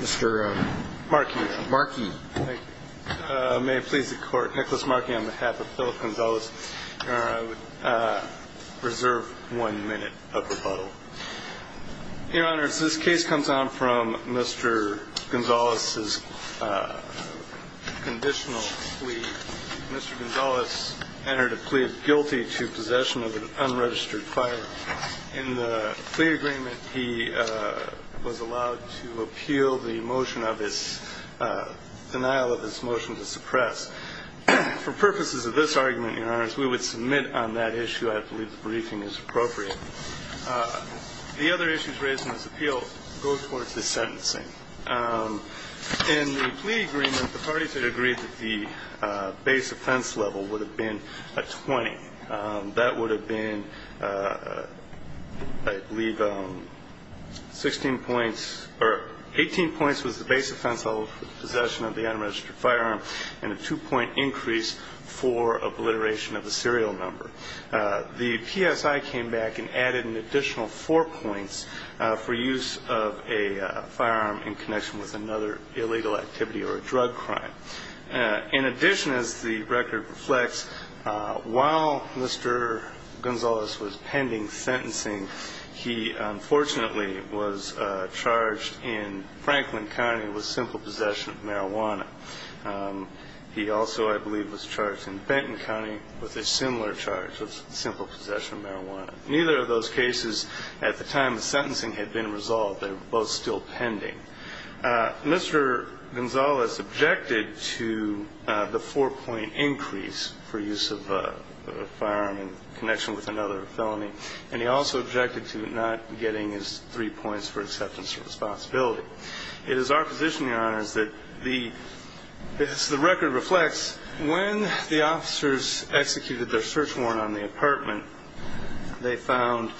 Mr. Markey. Markey. May it please the court, Nicholas Markey on behalf of Philip Gonzalez, I would reserve one minute of rebuttal. Your honors, this case comes on from Mr. Gonzalez's conditional plea. Mr. Gonzalez entered a plea of guilty to possession of an unregistered firearm. In the plea agreement, he was allowed to appeal the motion of his denial of his motion to suppress. For purposes of this argument, your honors, we would submit on that issue. I believe the briefing is appropriate. The other issues raised in this appeal go towards the sentencing. In the plea agreement, the parties had agreed that the base offense level would have been a 20. That would have been, I believe, 16 points or 18 points was the base offense level for possession of the unregistered firearm and a two-point increase for obliteration of the serial number. The PSI came back and added an additional four points for use of a firearm in connection with another illegal activity or a drug crime. In addition, as the record reflects, while Mr. Gonzalez was pending sentencing, he unfortunately was charged in Franklin County with simple possession of marijuana. He also, I believe, was charged in Benton County with a similar charge of simple possession of marijuana. Neither of those cases at the time of sentencing had been resolved. They were both still pending. Mr. Gonzalez objected to the four-point increase for use of a firearm in connection with another felony, and he also objected to not getting his three points for acceptance of responsibility. It is our position, Your Honors, that as the record reflects, when the officers executed their search warrant on the apartment, they found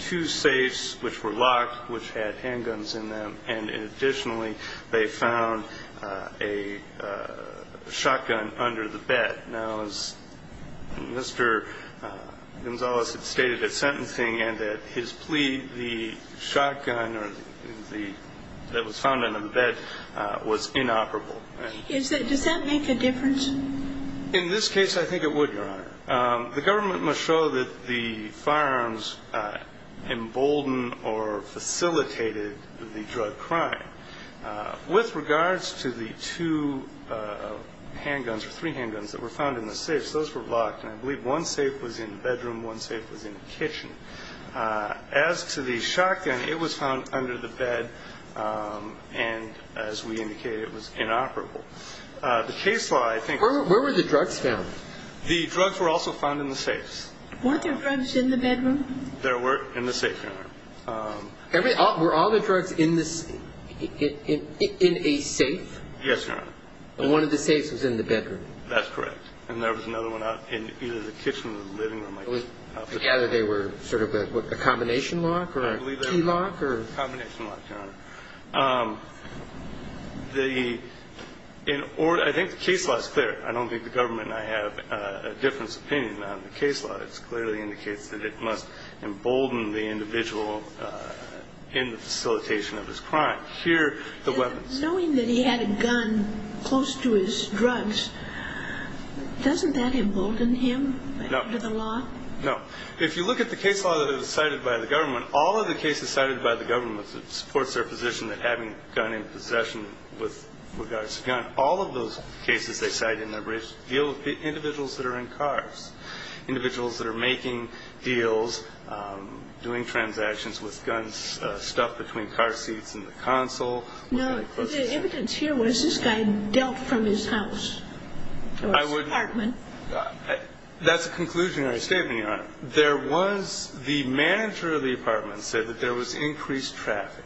two safes which were locked, which had handguns in them, and additionally, they found a shotgun under the bed. Now, as Mr. Gonzalez had stated at sentencing and at his plea, the shotgun that was found under the bed was inoperable. Does that make a difference? In this case, I think it would, Your Honor. The government must show that the firearms emboldened or facilitated the drug crime. With regards to the two handguns or three handguns that were found in the safes, those were locked, and I believe one safe was in the bedroom, one safe was in the kitchen. As to the shotgun, it was found under the bed, and as we indicated, it was inoperable. The case law, I think was the same. Where were the drugs found? The drugs were also found in the safes. Weren't there drugs in the bedroom? There were in the safe, Your Honor. Were all the drugs in a safe? Yes, Your Honor. One of the safes was in the bedroom. That's correct, and there was another one in either the kitchen or the living room. Either they were sort of a combination lock or a key lock? I believe they were a combination lock, Your Honor. I think the case law is clear. I don't think the government and I have a different opinion on the case law. It clearly indicates that it must embolden the individual in the facilitation of his crime. Here, the weapons. Knowing that he had a gun close to his drugs, doesn't that embolden him under the law? No. If you look at the case law that was cited by the government, all of the cases cited by the government that supports their position of having a gun in possession with regards to guns, all of those cases they cite in their briefs deal with individuals that are in cars, individuals that are making deals, doing transactions with guns, stuff between car seats and the console. No. The evidence here was this guy dealt from his house or his apartment. That's a conclusionary statement, Your Honor. The manager of the apartment said that there was increased traffic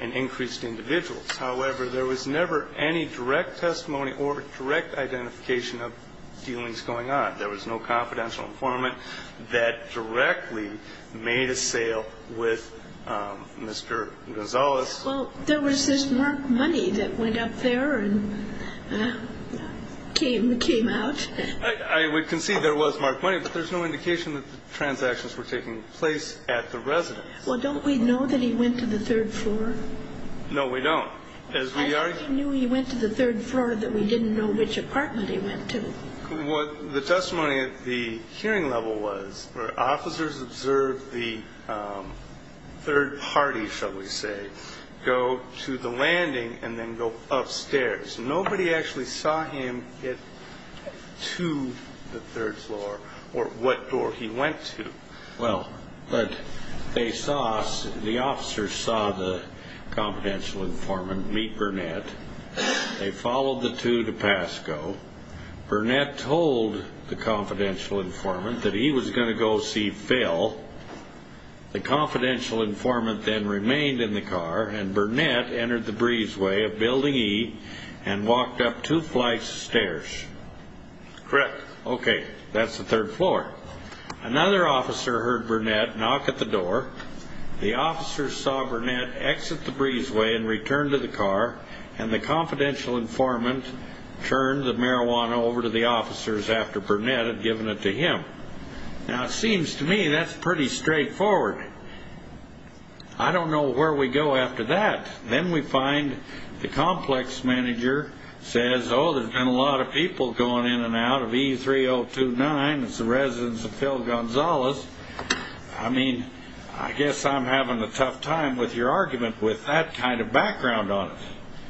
and increased individuals. However, there was never any direct testimony or direct identification of dealings going on. There was no confidential informant that directly made a sale with Mr. Gonzales. Well, there was this marked money that went up there and came out. I would concede there was marked money, but there's no indication that the transactions were taking place at the residence. Well, don't we know that he went to the third floor? No, we don't. I think we knew he went to the third floor that we didn't know which apartment he went to. The testimony at the hearing level was where officers observed the third party, shall we say, go to the landing and then go upstairs. Nobody actually saw him get to the third floor or what door he went to. Well, but they saw us. The officers saw the confidential informant meet Burnett. They followed the two to Pasco. Burnett told the confidential informant that he was going to go see Phil. The confidential informant then remained in the car, and Burnett entered the breezeway of Building E and walked up two flights of stairs. Correct. Okay, that's the third floor. Another officer heard Burnett knock at the door. The officers saw Burnett exit the breezeway and return to the car, and the confidential informant turned the marijuana over to the officers after Burnett had given it to him. Now, it seems to me that's pretty straightforward. I don't know where we go after that. Then we find the complex manager says, oh, there's been a lot of people going in and out of E3029. It's the residence of Phil Gonzalez. I mean, I guess I'm having a tough time with your argument with that kind of background on it.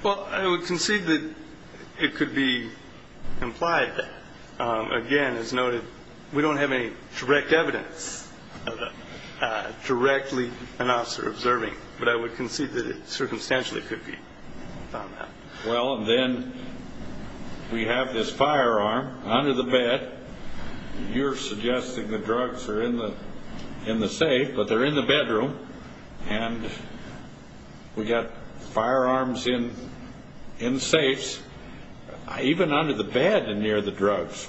Well, I would concede that it could be implied that. Again, as noted, we don't have any direct evidence of directly an officer observing, but I would concede that it circumstantially could be found out. Well, and then we have this firearm under the bed. You're suggesting the drugs are in the safe, but they're in the bedroom, and we've got firearms in the safes, even under the bed and near the drugs.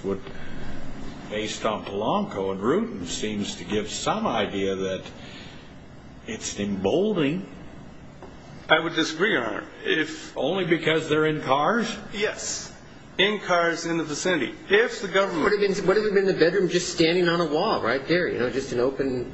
Based on Polanco and Rudin, it seems to give some idea that it's emboldening. I would disagree on that. Only because they're in cars? Yes, in cars in the vicinity. What if it had been in the bedroom just standing on a wall right there, you know, just an open?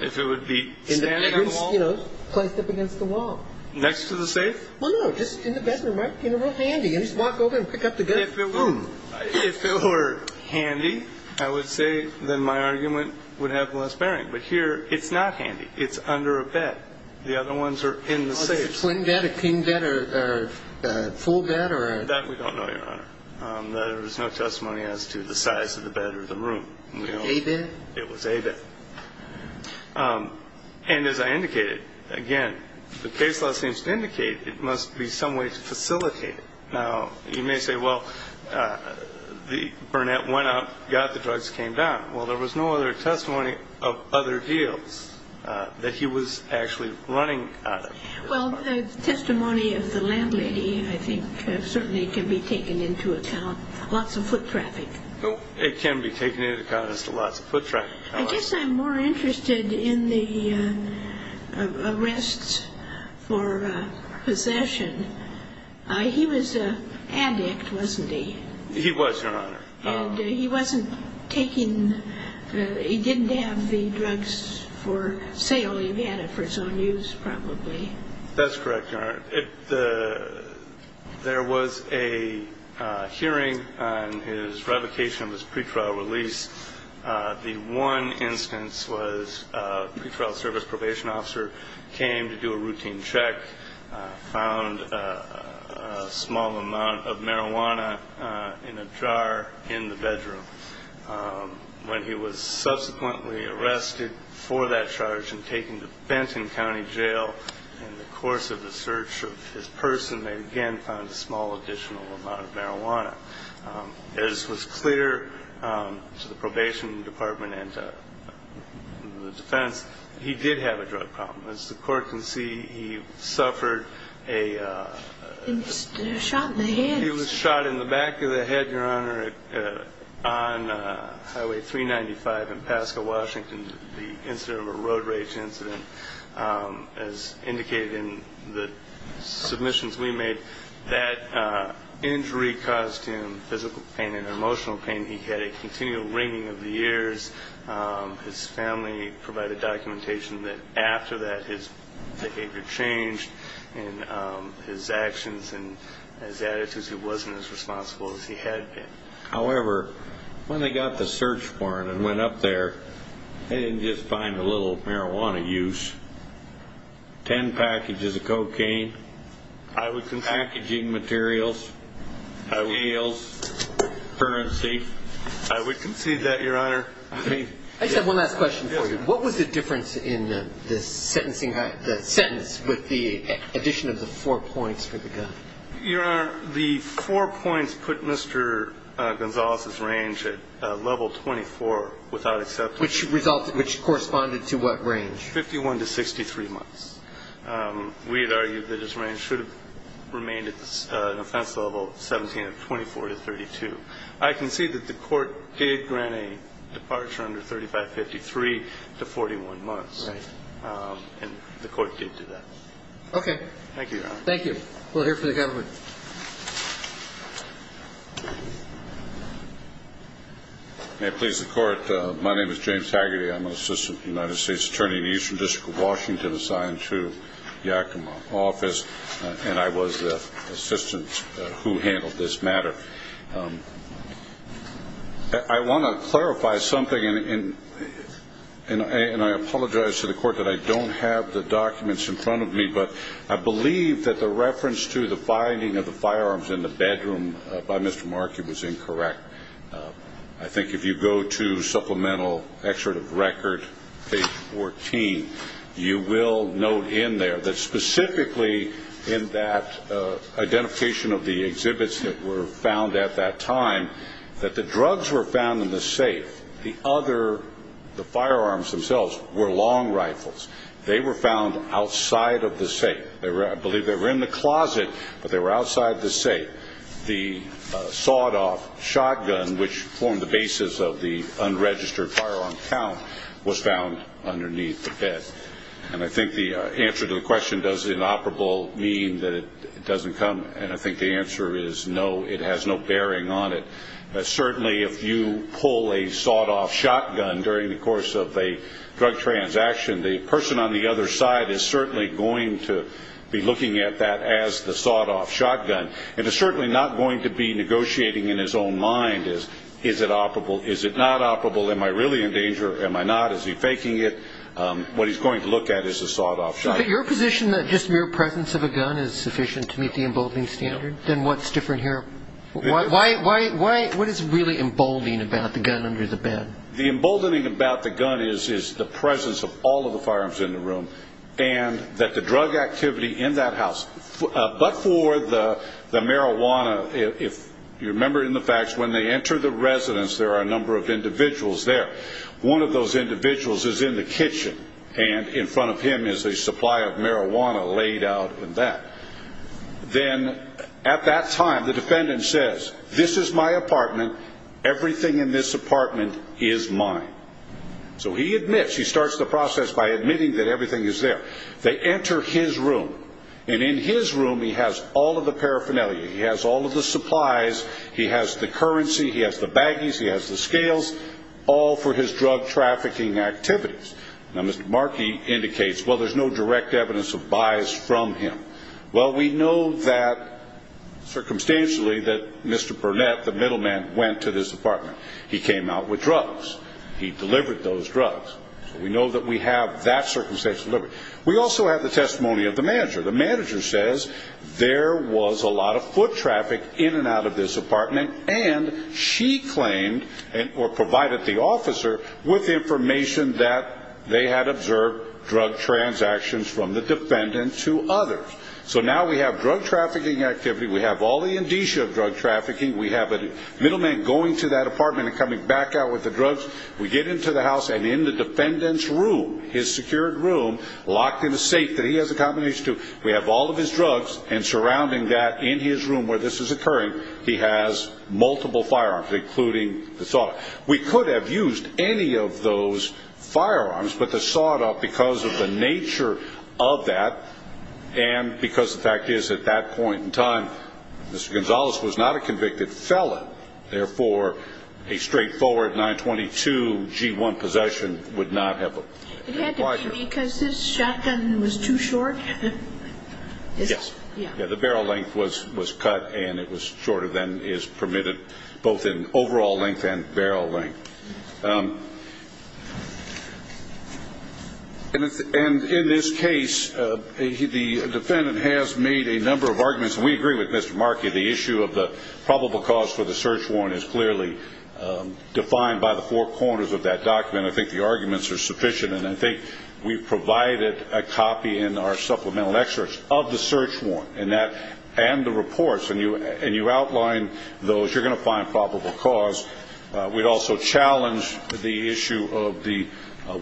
If it would be standing on a wall? You know, placed up against the wall. Next to the safe? Well, no, just in the bedroom, right? You know, real handy. You just walk over and pick up the gun. If it were handy, I would say then my argument would have less bearing. But here it's not handy. It's under a bed. The other ones are in the safe. Is it a twin bed, a king bed, a full bed? That we don't know, Your Honor. There is no testimony as to the size of the bed or the room. A-bed? It was A-bed. And as I indicated, again, the case law seems to indicate it must be some way to facilitate it. Now, you may say, well, Burnett went out, got the drugs, came down. Well, there was no other testimony of other deals that he was actually running out of. Well, the testimony of the landlady, I think, certainly can be taken into account. Lots of foot traffic. It can be taken into account as to lots of foot traffic. I guess I'm more interested in the arrests for possession. He was an addict, wasn't he? He was, Your Honor. And he wasn't taking the ñ he didn't have the drugs for sale. He had it for his own use, probably. That's correct, Your Honor. There was a hearing on his revocation of his pretrial release. The one instance was a pretrial service probation officer came to do a routine check, found a small amount of marijuana in a jar in the bedroom. When he was subsequently arrested for that charge and taken to Benton County Jail, in the course of the search of his person, they again found a small additional amount of marijuana. As was clear to the probation department and to the defense, he did have a drug problem. As the court can see, he suffered a ñ He was shot in the head. He was shot in the back of the head, Your Honor, on Highway 395 in Pasco, Washington, the incident of a road rage incident. As indicated in the submissions we made, that injury caused him physical pain and emotional pain. He had a continual ringing of the ears. His family provided documentation that after that his behavior changed and his actions and his attitudes, he wasn't as responsible as he had been. However, when they got the search warrant and went up there, they didn't just find a little marijuana use, 10 packages of cocaine, packaging materials, heels, currency. I would concede that, Your Honor. I just have one last question for you. What was the difference in the sentence with the addition of the four points for the gun? Your Honor, the four points put Mr. Gonzales' range at level 24 without exception. Which corresponded to what range? 51 to 63 months. We had argued that his range should have remained at an offense level 17 of 24 to 32. I concede that the court did grant a departure under 3553 to 41 months. Right. And the court did do that. Okay. Thank you, Your Honor. Thank you. We'll hear from the government. May it please the Court. My name is James Taggarty. I'm an assistant to the United States Attorney in the Eastern District of Washington assigned to Yakima office, and I was the assistant who handled this matter. I want to clarify something, and I apologize to the Court that I don't have the documents in front of me, but I believe that the reference to the finding of the firearms in the bedroom by Mr. Markey was incorrect. I think if you go to Supplemental Excerpt of Record, page 14, you will note in there that specifically in that identification of the exhibits that were found at that time, that the drugs were found in the safe. The other, the firearms themselves, were long rifles. They were found outside of the safe. I believe they were in the closet, but they were outside the safe. I believe that the sawed-off shotgun, which formed the basis of the unregistered firearm count, was found underneath the bed. And I think the answer to the question, does inoperable mean that it doesn't come, and I think the answer is no, it has no bearing on it. Certainly, if you pull a sawed-off shotgun during the course of a drug transaction, the person on the other side is certainly going to be looking at that as the sawed-off shotgun and is certainly not going to be negotiating in his own mind, is it operable, is it not operable, am I really in danger, am I not, is he faking it, what he's going to look at is the sawed-off shotgun. But your position that just mere presence of a gun is sufficient to meet the emboldening standard, then what's different here? What is really emboldening about the gun under the bed? The emboldening about the gun is the presence of all of the firearms in the room and that the drug activity in that house, but for the marijuana, if you remember in the facts when they enter the residence there are a number of individuals there. One of those individuals is in the kitchen, and in front of him is a supply of marijuana laid out in that. Then at that time the defendant says, this is my apartment, everything in this apartment is mine. So he admits, he starts the process by admitting that everything is there. They enter his room, and in his room he has all of the paraphernalia, he has all of the supplies, he has the currency, he has the baggies, he has the scales, all for his drug trafficking activities. Now, Mr. Markey indicates, well, there's no direct evidence of buys from him. Well, we know that circumstantially that Mr. Burnett, the middleman, went to this apartment. He came out with drugs. He delivered those drugs. We know that we have that circumstantial evidence. We also have the testimony of the manager. The manager says there was a lot of foot traffic in and out of this apartment, and she claimed or provided the officer with information that they had observed drug transactions from the defendant to others. So now we have drug trafficking activity. We have all the indicia of drug trafficking. We have a middleman going to that apartment and coming back out with the drugs. We get into the house, and in the defendant's room, his secured room, locked in a safe that he has accommodation to, we have all of his drugs, and surrounding that in his room where this is occurring, he has multiple firearms, including the sawed-off. We could have used any of those firearms but the sawed-off because of the nature of that and because the fact is at that point in time Mr. Gonzalez was not a convicted felon, therefore a straightforward 922-G1 possession would not have applied to him. It had to be because his shotgun was too short? Yes. Yeah. The barrel length was cut and it was shorter than is permitted both in overall length and barrel length. And in this case, the defendant has made a number of arguments, and we agree with Mr. Markey, the issue of the probable cause for the search warrant is clearly defined by the four corners of that document. I think the arguments are sufficient, and I think we've provided a copy in our supplemental experts of the search warrant and the reports, and you outline those, you're going to find probable cause. We'd also challenge the issue of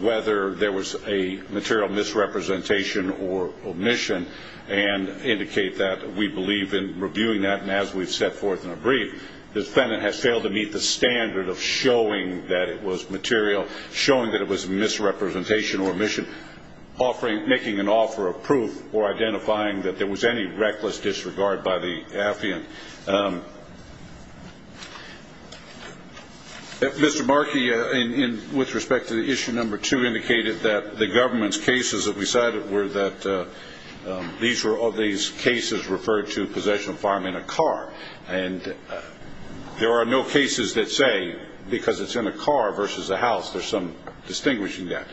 whether there was a material misrepresentation or omission and indicate that we believe in reviewing that, and as we've set forth in a brief, the defendant has failed to meet the standard of showing that it was material, showing that it was misrepresentation or omission, making an offer of proof or identifying that there was any reckless disregard by the affiant. Mr. Markey, with respect to the issue number two, indicated that the government's cases that we cited were that these cases referred to possession of firearm in a car, and there are no cases that say because it's in a car versus a house, there's some distinguishing there.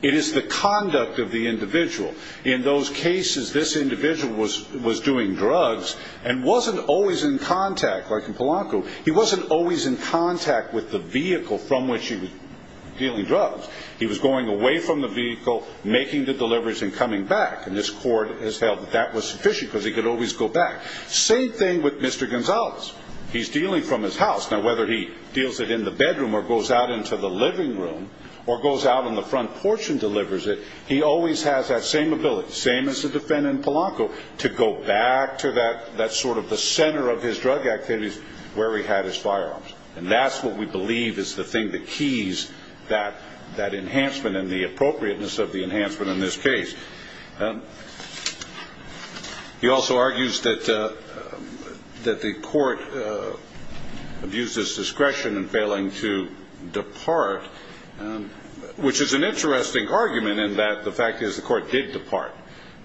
It is the conduct of the individual. In those cases, this individual was doing drugs and wasn't always in contact, like in Polanco, he wasn't always in contact with the vehicle from which he was dealing drugs. He was going away from the vehicle, making the deliveries and coming back, and this court has held that that was sufficient because he could always go back. Same thing with Mr. Gonzalez. He's dealing from his house. Now, whether he deals it in the bedroom or goes out into the living room or goes out on the front porch and delivers it, he always has that same ability, same as the defendant in Polanco, to go back to that sort of the center of his drug activities where he had his firearms, and that's what we believe is the thing that keys that enhancement and the appropriateness of the enhancement in this case. He also argues that the court abused his discretion in failing to depart, which is an interesting argument in that the fact is the court did depart,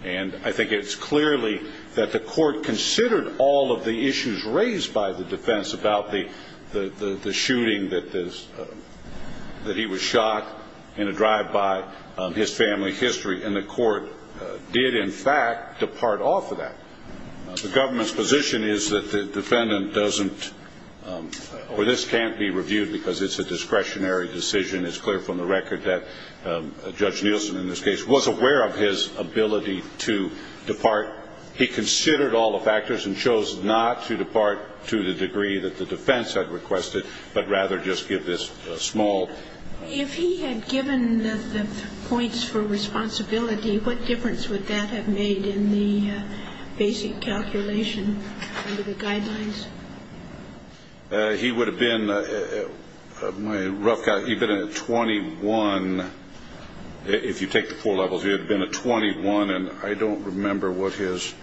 and I think it's clearly that the court considered all of the issues raised by the defense about the shooting that he was shot in a drive by, his family history, and the court did, in fact, depart off of that. The government's position is that the defendant doesn't or this can't be reviewed because it's a discretionary decision. It's clear from the record that Judge Nielsen in this case was aware of his ability to depart. He considered all the factors and chose not to depart to the degree that the defense had requested, but rather just give this small. If he had given the points for responsibility, what difference would that have made in the basic calculation under the guidelines? He would have been a rough guy. He would have been a 21. If you take the four levels, he would have been a 21, and I don't remember what his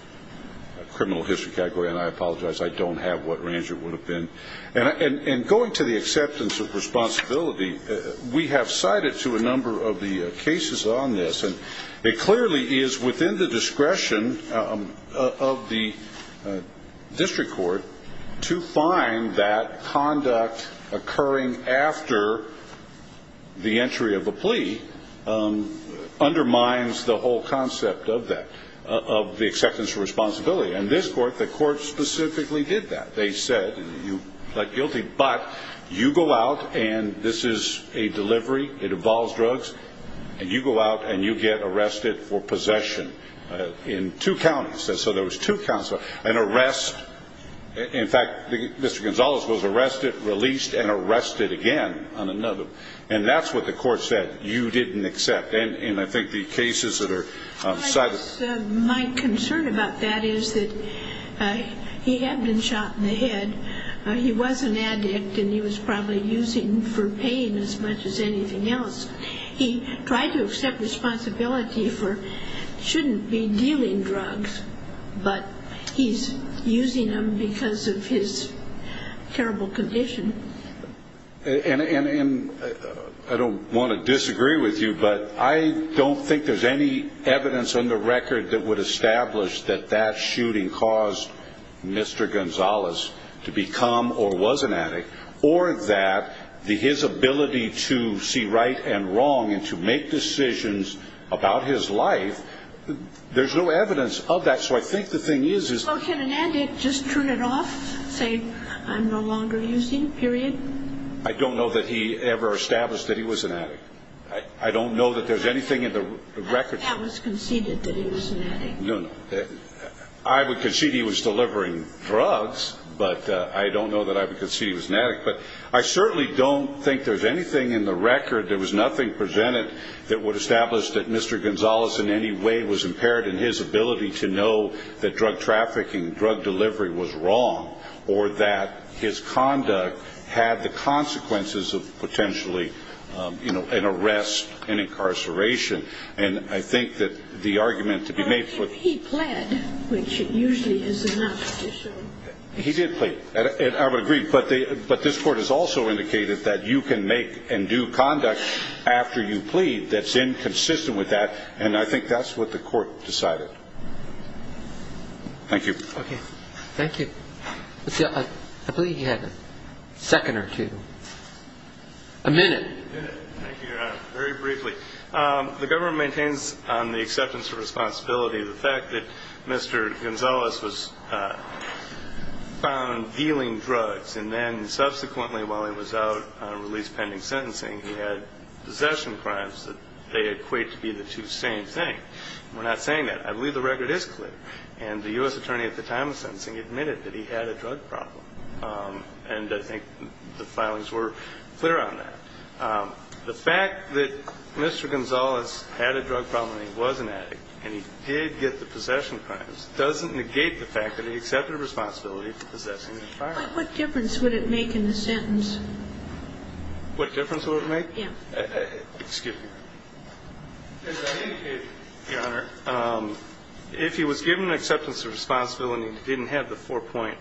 criminal history category, and I apologize. I don't have what range it would have been. And going to the acceptance of responsibility, we have cited to a number of the cases on this, and it clearly is within the discretion of the district court to find that conduct occurring after the entry of a plea undermines the whole concept of that, of the acceptance of responsibility. In this court, the court specifically did that. They said, you plead guilty, but you go out and this is a delivery, it involves drugs, and you go out and you get arrested for possession in two counties. So there was two counts of an arrest. In fact, Mr. Gonzalez was arrested, released, and arrested again on another. And that's what the court said you didn't accept. And I think the cases that are cited. My concern about that is that he had been shot in the head. He was an addict, and he was probably using for pain as much as anything else. He tried to accept responsibility for shouldn't be dealing drugs, but he's using them because of his terrible condition. And I don't want to disagree with you, but I don't think there's any evidence on the record that would establish that that shooting caused Mr. Gonzalez to become or was an addict, or that his ability to see right and wrong and to make decisions about his life, there's no evidence of that. So can an addict just turn it off, say, I'm no longer using, period? I don't know that he ever established that he was an addict. I don't know that there's anything in the record. I would concede that he was an addict. No, no. I would concede he was delivering drugs, but I don't know that I would concede he was an addict. But I certainly don't think there's anything in the record, there was nothing presented that would establish that Mr. Gonzalez in any way was impaired in his ability to know that drug trafficking, drug delivery was wrong, or that his conduct had the consequences of potentially, you know, an arrest, an incarceration. And I think that the argument to be made for the... He pled, which usually is enough to show... He did plead, and I would agree, but this Court has also indicated that you can make and do conduct after you plead that's inconsistent with that, and I think that's what the Court decided. Thank you. Okay. Thank you. I believe you had a second or two. A minute. A minute. Thank you, Your Honor. Very briefly. The government maintains on the acceptance of responsibility the fact that Mr. Gonzalez was found dealing drugs, and then subsequently, while he was out on release pending sentencing, he had possession crimes that they equate to be the two same thing. We're not saying that. I believe the record is clear, and the U.S. attorney at the time of sentencing admitted that he had a drug problem, and I think the filings were clear on that. The fact that Mr. Gonzalez had a drug problem and he was an addict and he did get the possession crimes doesn't negate the fact that he accepted responsibility But what difference would it make in the sentence? What difference would it make? Yeah. Excuse me. I think, Your Honor, if he was given acceptance of responsibility and didn't have the four-point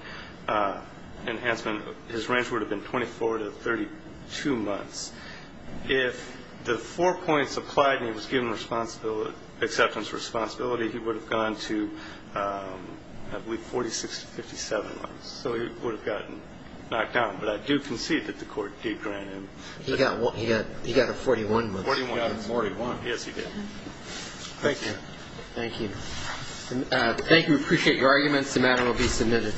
enhancement, his range would have been 24 to 32 months. If the four points applied and he was given acceptance of responsibility, he would have gone to, I believe, 46 to 57 months. So he would have gotten knocked out. But I do concede that the court did grant him. He got a 41 month sentence. He got a 41. Yes, he did. Thank you. Thank you. Thank you. We appreciate your arguments. The matter will be submitted.